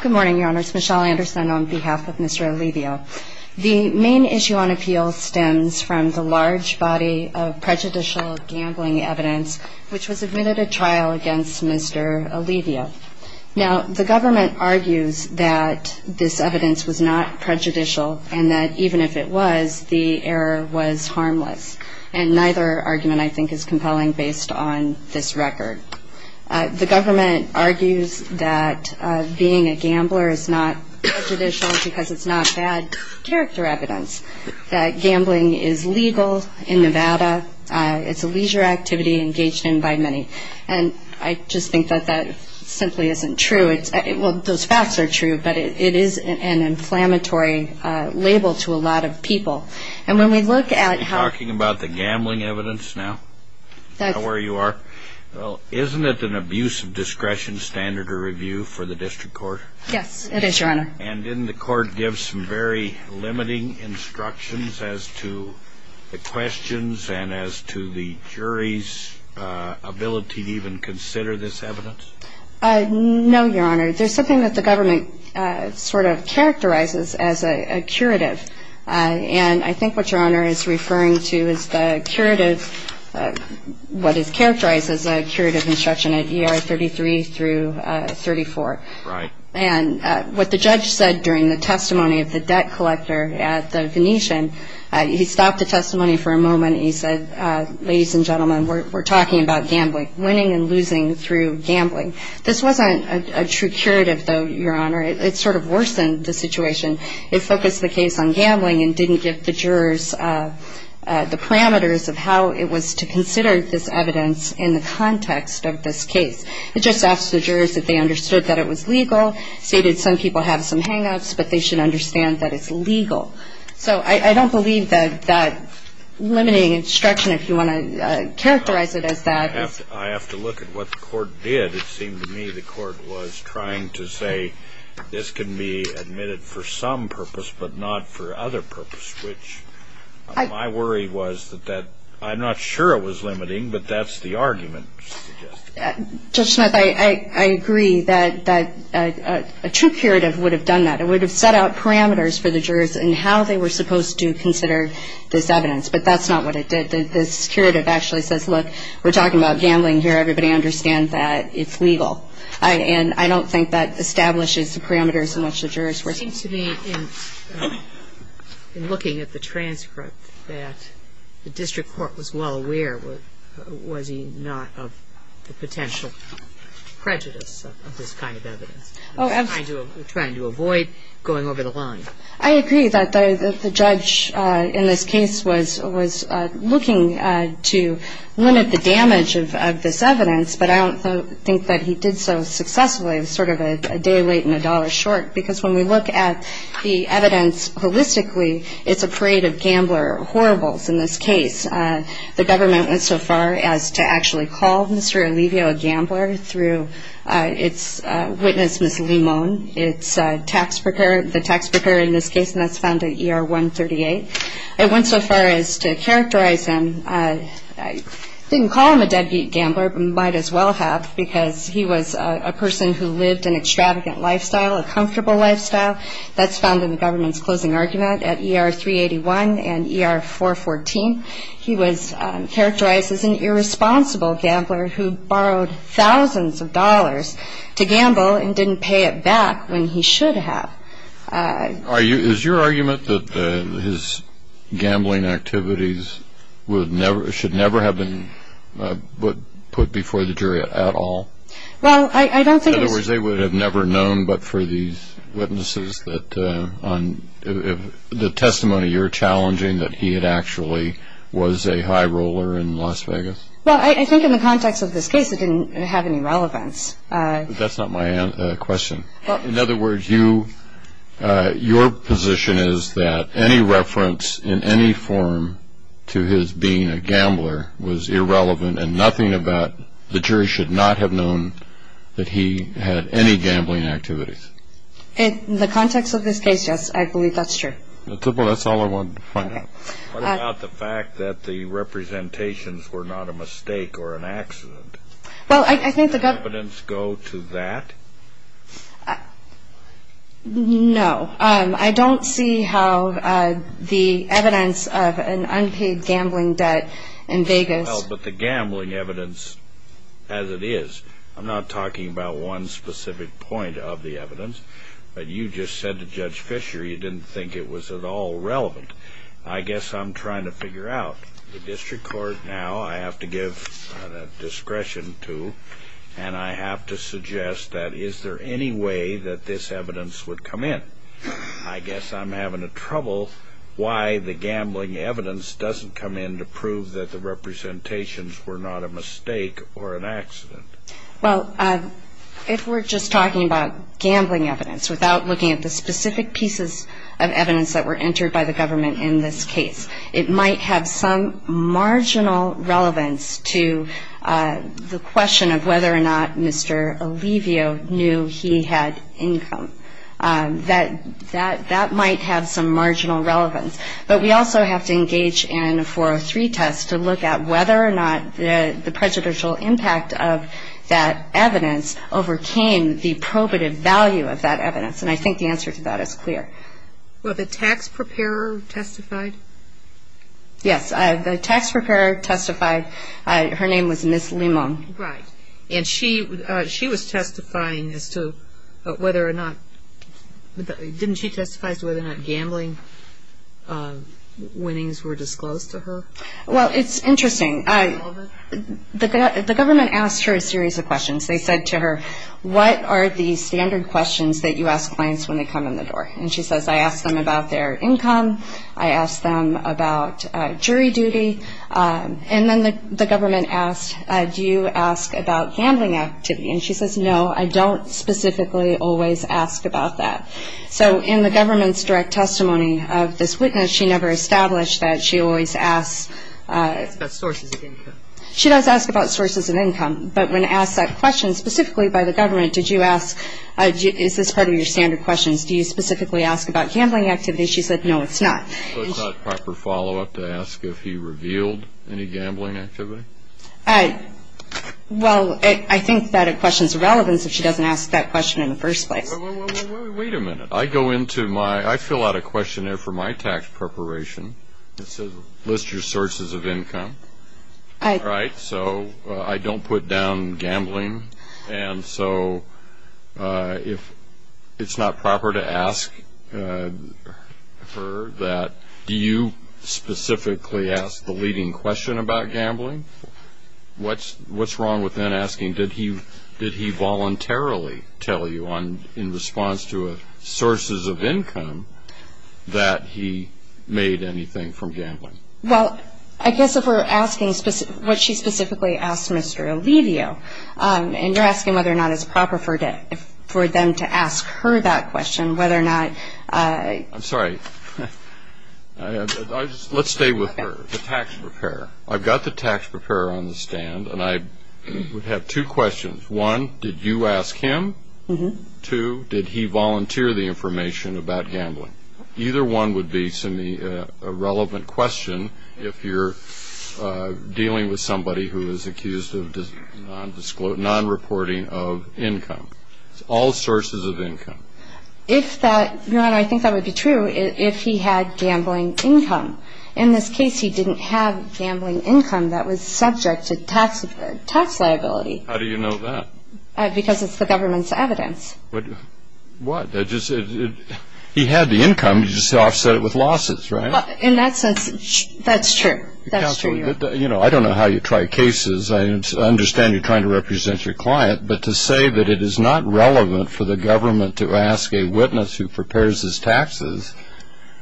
Good morning your honors, Michelle Anderson on behalf of Mr. Alivio. The main issue on appeal stems from the large body of prejudicial gambling evidence which was admitted at trial against Mr. Alivio. Now the government argues that this evidence was not prejudicial and that even if it was the error was harmless and neither argument I think is compelling based on this being a gambler is not prejudicial because it's not bad character evidence that gambling is legal in Nevada it's a leisure activity engaged in by many and I just think that that simply isn't true it's well those facts are true but it is an inflammatory label to a lot of people and when we look at talking about the gambling evidence now that's where you are well isn't it an abuse of standard of review for the district court yes it is your honor and in the court gives some very limiting instructions as to the questions and as to the jury's ability to even consider this evidence no your honor there's something that the government sort of characterizes as a curative and I think what your honor is referring to is the curative what is characterized as a 33 through 34 right and what the judge said during the testimony of the debt collector at the Venetian he stopped the testimony for a moment he said ladies and gentlemen we're talking about gambling winning and losing through gambling this wasn't a true curative though your honor it sort of worsened the situation it focused the case on gambling and didn't give the jurors the parameters of how it was to consider this evidence in the context of this case it just asked the jurors if they understood that it was legal stated some people have some hang-ups but they should understand that it's legal so I don't believe that that limiting instruction if you want to characterize it as that I have to look at what the court did it seemed to me the court was trying to say this can be admitted for some purpose but not for other purpose which I worry was that that I'm not sure it was limiting but that's the argument Judge Smith I agree that that a true curative would have done that it would have set out parameters for the jurors and how they were supposed to consider this evidence but that's not what it did this curative actually says look we're talking about gambling here everybody understands that it's legal I and I don't think that establishes the parameters in which the jurors were speaking to me in looking at the transcript that the district court was was he not of the potential prejudice trying to avoid going over the line I agree that the judge in this case was was looking to limit the damage of this evidence but I don't think that he did so successfully it was sort of a day late and a dollar short because when we look at the evidence holistically it's a gambler horribles in this case the government went so far as to actually call mr. Alivio a gambler through its witness miss Lee moan it's tax procurement the tax preparer in this case and that's found a year 138 it went so far as to characterize him I didn't call him a deadbeat gambler but might as well have because he was a person who lived an extravagant lifestyle a comfortable lifestyle that's found in the government's closing argument at er 381 and er 414 he was characterized as an irresponsible gambler who borrowed thousands of dollars to gamble and didn't pay it back when he should have are you is your argument that his gambling activities would never should never have been but put before the jury at all well I don't think they would have never known but for these witnesses that on the testimony you're challenging that he had actually was a high roller in Las Vegas well I think in the context of this case it didn't have any relevance that's not my question in other words you your position is that any reference in any form to his being a gambler was irrelevant and nothing about the jury should not have known that he had any gambling activities in the context of this case yes I believe that's true that's all I wanted to find out the fact that the representations were not a mistake or an accident well I think the evidence go to that no I don't see how the evidence of an unpaid gambling debt in Vegas but the gambling evidence as it is I'm not talking about one specific point of the evidence but you just said to judge Fisher you didn't think it was at all relevant I guess I'm trying to figure out the district court now I have to give discretion to and I have to suggest that is there any way that this evidence would come in I guess I'm having a trouble why the gambling evidence doesn't come in to prove that the representations were not a mistake or an accident well if we're just talking about gambling evidence without looking at the specific pieces of evidence that were entered by the government in this case it might have some marginal relevance to the question of whether or not mr. Alivio knew he had income that that that might have some marginal relevance but we also have to look at whether or not the prejudicial impact of that evidence overcame the probative value of that evidence and I think the answer to that is clear well the tax preparer testified yes the tax preparer testified her name was miss Limon right and she she was testifying as to whether or not didn't she interesting I the government asked her a series of questions they said to her what are the standard questions that you ask clients when they come in the door and she says I asked them about their income I asked them about jury duty and then the government asked do you ask about gambling activity and she says no I don't specifically always ask about that so in the government's direct testimony of this witness she never established that she always asks she does ask about sources of income but when asked that question specifically by the government did you ask is this part of your standard questions do you specifically ask about gambling activity she said no it's not proper follow-up to ask if he revealed any gambling activity I well I think that it questions relevance if she doesn't ask that question in the first place wait a questionnaire for my tax preparation list your sources of income I write so I don't put down gambling and so if it's not proper to ask her that do you specifically ask the leading question about gambling what's what's wrong with then asking did he did he voluntarily tell you on in response to a sources of that he made anything from gambling well I guess if we're asking specific what she specifically asked mr. Olivia and you're asking whether or not it's proper for debt for them to ask her that question whether or not I'm sorry let's stay with her the tax preparer I've got the tax preparer on the stand and I would have two questions one did you ask him to did he volunteer the information about gambling either one would be to me a relevant question if you're dealing with somebody who is accused of non-reporting of income all sources of income if that you know I think that would be true if he had gambling income in this case he didn't have gambling income that was subject to tax tax liability how do you know that because it's the government's evidence but what he had the income you just offset it with losses right in that sense that's true you know I don't know how you try cases I understand you're trying to represent your client but to say that it is not relevant for the government to ask a witness who prepares his taxes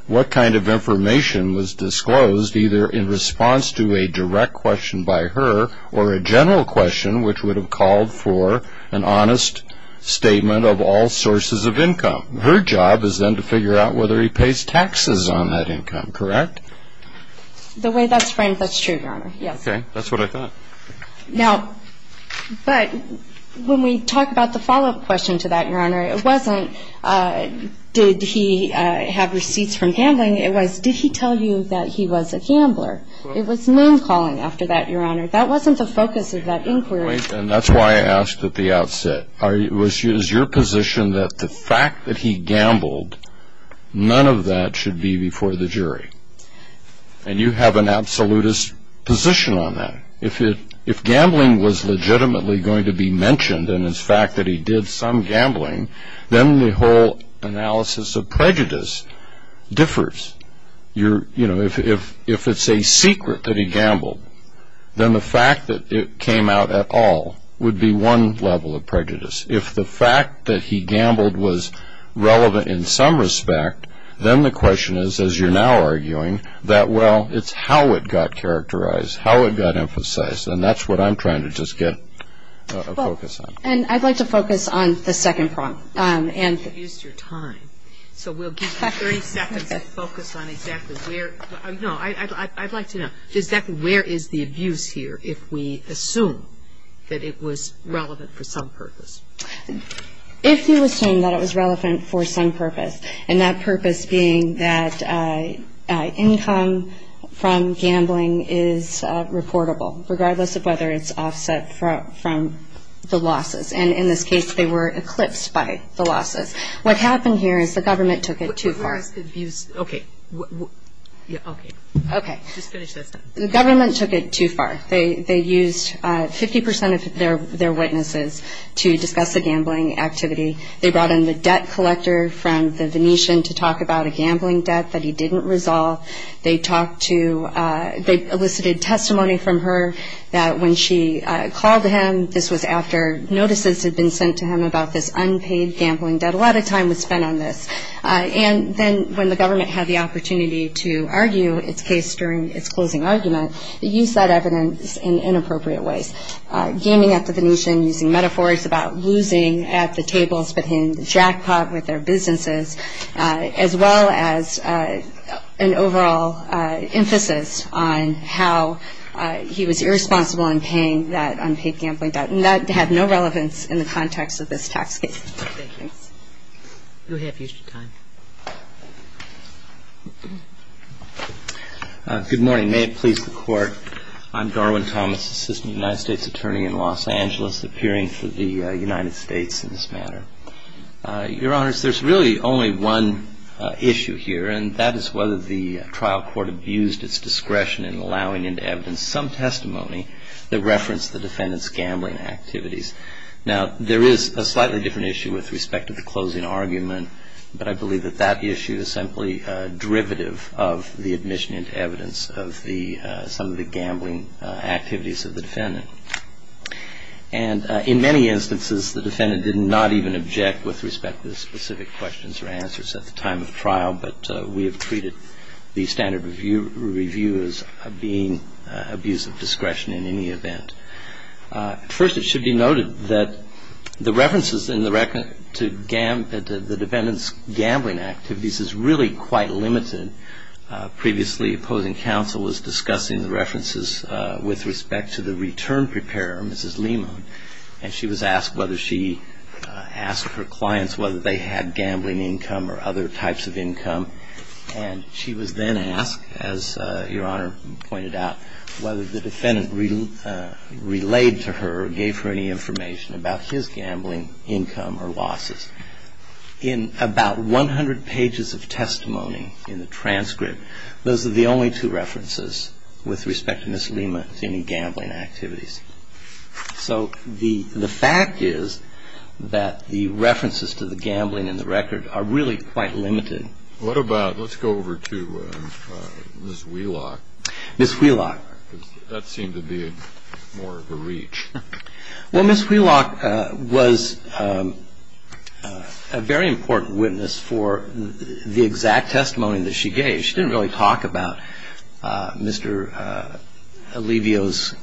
what kind of information was disclosed either in response to a direct question by her or a general question which would have called for an honest statement of all sources of income her job is then to figure out whether he pays taxes on that income correct the way that's framed that's true your honor yes okay that's what I thought now but when we talk about the follow-up question to that your honor it wasn't did he have receipts from gambling it was did he tell you that he was a gambler it was calling after that your honor that wasn't the focus of that inquiry and that's why I asked at the outset I wish is your position that the fact that he gambled none of that should be before the jury and you have an absolutist position on that if it if gambling was legitimately going to be mentioned and it's fact that he did some gambling then the whole analysis of prejudice differs you're you know if if it's a secret that he gambled then the fact that it came out at all would be one level of prejudice if the fact that he gambled was relevant in some respect then the question is as you're now arguing that well it's how it got characterized how it got emphasized and that's what I'm focus on and I'd like to focus on the second prompt and use your time so we'll give 30 seconds to focus on exactly where no I'd like to know does that where is the abuse here if we assume that it was relevant for some purpose if you assume that it was relevant for some purpose and that purpose being that income from gambling is reportable regardless of whether it's offset from the losses and in this case they were eclipsed by the losses what happened here is the government took it too far okay the government took it too far they they used 50% of their their witnesses to discuss the gambling activity they brought in the debt collector from the Venetian to talk about a gambling debt that he didn't resolve they talked to they elicited testimony from her that when she called him this was after notices had been sent to him about this unpaid gambling debt a lot of time was spent on this and then when the government had the opportunity to argue its case during its closing argument they use that evidence in inappropriate ways gaming at the Venetian using metaphors about losing at the tables but in jackpot with their businesses as well as an overall emphasis on how he was irresponsible in paying that unpaid gambling debt and that had no relevance in the context of this tax case good morning may it please the court I'm Darwin Thomas assistant United States attorney in Los Angeles appearing for the United States in this matter your here and that is whether the trial court abused its discretion in allowing into evidence some testimony that referenced the defendants gambling activities now there is a slightly different issue with respect to the closing argument but I believe that that issue is simply derivative of the admission into evidence of the some of the gambling activities of the defendant and in many instances the defendant did not even object with respect to the specific questions or answers at the time of trial but we have treated the standard review review as being abuse of discretion in any event first it should be noted that the references in the record to gambit the defendants gambling activities is really quite limited previously opposing counsel was discussing the references with respect to the return preparer mrs. Lima and she was asked whether she asked her clients whether they had gambling income or other types of income and she was then asked as your honor pointed out whether the defendant really relayed to her gave her any information about his gambling income or losses in about 100 pages of testimony in the transcript those are the only two references with respect to miss Lima any gambling activities so the fact is that the references to the gambling in the record are really quite limited what about let's go over to miss wheelock miss wheelock that seemed to be more of a reach well miss wheelock was a very important witness for the exact testimony that she gave she didn't really talk about mr. Alivio's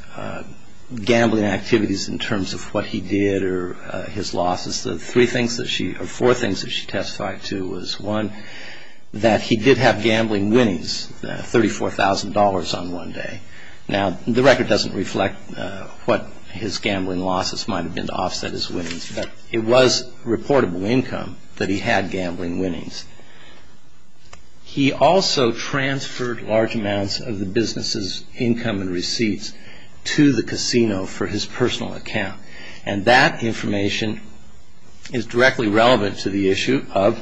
gambling activities in terms of what he did or his losses the three things that she four things that she testified to was one that he did have gambling winnings $34,000 on one day now the record doesn't reflect what his gambling losses might have been to offset his winnings but it was reportable income that he had gambling winnings he also transferred large amounts of the business's income and receipts to the casino for his personal account and that information is directly relevant to the issue of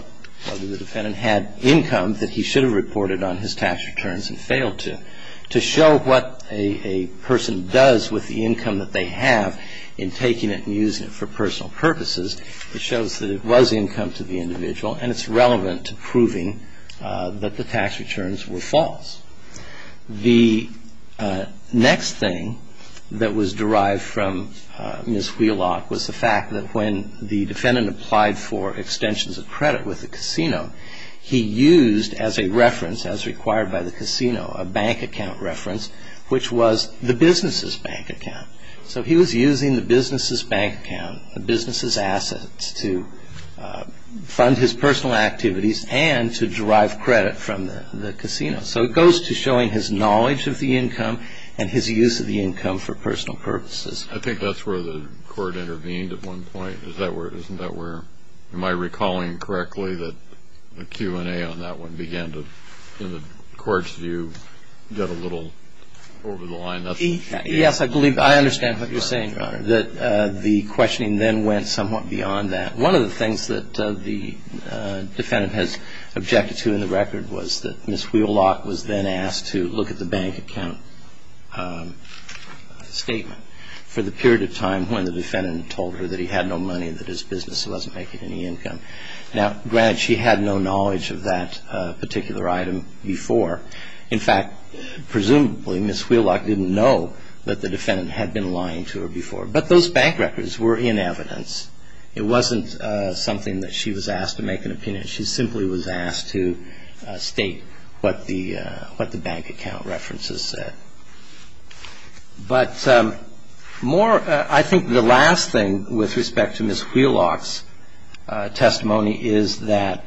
whether the defendant had income that he should have reported on his tax returns and failed to to show what a person does with the income that they have in taking it and using it for personal purposes it shows that it was income to the individual and it's relevant to proving that the tax returns were false the next thing that was derived from miss wheelock was the fact that when the defendant applied for extensions of credit with the casino he used as a reference as required by the casino a bank account reference which was the business's bank account so he was using the business's bank account the business's assets to fund his personal activities and to derive credit from the casino so it goes to showing his knowledge of the income and his use of the income for personal purposes I think that's where the court intervened at one point is that where isn't that where am I recalling correctly that the Q&A on that one began to in the courts do you get a little over the line that's yes I believe I understand what you're saying that the questioning then went somewhat beyond that one of the things that the defendant has objected to in the record was that miss wheelock was then asked to look at the bank account statement for the period of time when the defendant told her that he had no money that his business wasn't making any income now granted she had no knowledge of that particular item before in fact presumably miss wheelock didn't know that the defendant had been lying to her before but those bank records were in evidence it wasn't something that she was asked to make an opinion she simply was asked to state what the what the bank account references said but more I think the last thing with respect to miss wheelock's testimony is that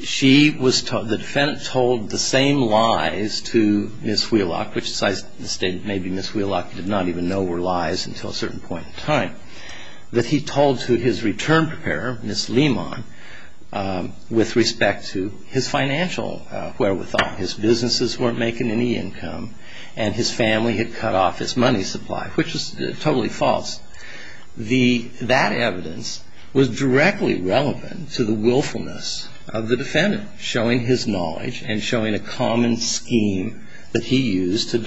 she was told the defendant told the same lies to miss wheelock which is I stated maybe miss wheelock did not even know were lies until a certain point in time that he told to his return preparer miss Lehmann with respect to his financial wherewithal his businesses weren't making any income and his family had cut off his money supply which is totally false the that evidence was directly relevant to the willfulness of the defendant showing his knowledge and showing a common scheme that he used to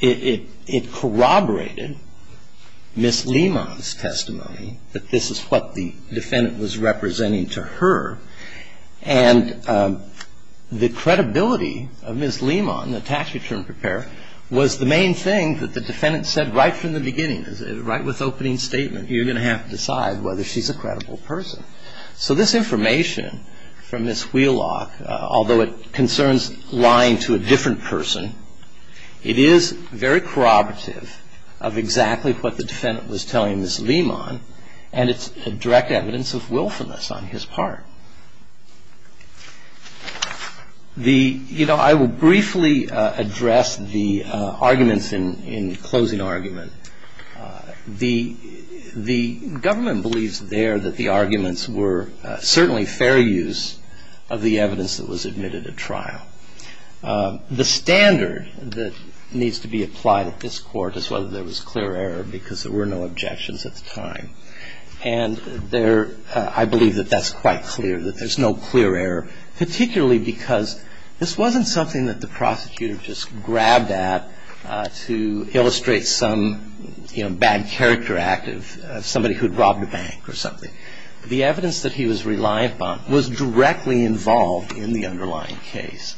it corroborated miss Lehmann's testimony that this is what the defendant was representing to her and the credibility of miss Lehmann the tax return preparer was the main thing that the defendant said right from the beginning right with opening statement you're going to have to decide whether she's a credible person so this information from miss wheelock although it concerns lying to a different person it is very corroborative of exactly what the defendant was telling miss Lehmann and it's a direct evidence of willfulness on his part the you know I will briefly address the arguments in in closing argument the the government believes there that the arguments were certainly fair use of the evidence that was admitted at trial the standard that needs to be applied at this court is whether there was clear error because there were no objections at the time and there I believe that that's quite clear that there's no clear error particularly because this wasn't something that the prosecutor just grabbed at to illustrate some bad character act of somebody who'd robbed a bank or something the evidence that he was reliant on was directly involved in the underlying case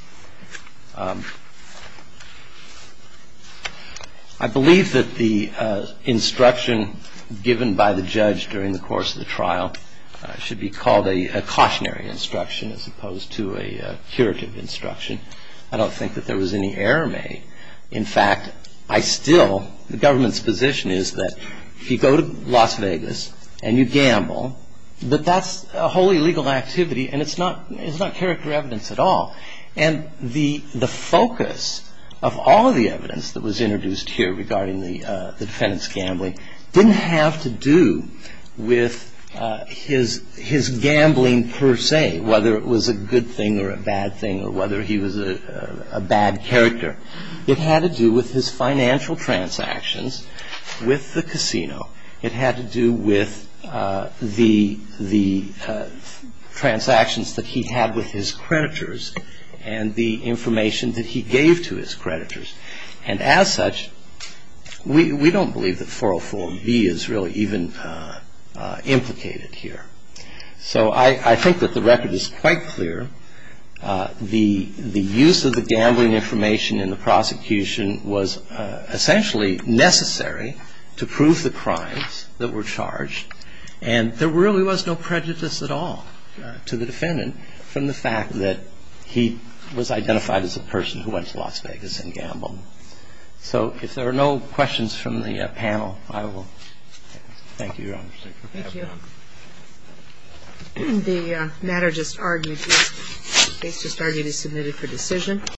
I believe that the instruction given by the judge during the course of the trial should be called a cautionary instruction as opposed to a curative instruction I don't think that there was any error made in fact I still the government's position is that if you go to Las Vegas and you gamble but that's a wholly legal activity and it's not it's not character evidence at all and the the focus of all the evidence that was introduced here regarding the defendant's gambling didn't have to do with his his gambling per se whether it was a good thing or a bad thing or whether he was a bad character it had to do with his financial transactions with the casino it had to do with the the transactions that he had with his creditors and the information that he gave to his creditors and as such we don't believe that 404 and B is really even implicated here so I think that the record is quite clear the the use of the gambling information in the prosecution was essentially necessary to prove the crimes that were charged and there really was no prejudice at all to the defendant from the fact that he was identified as a person who went to Las Vegas and gambled so if there are no questions from the panel I will thank you your honor the matter just argued it's just argued is submitted for decision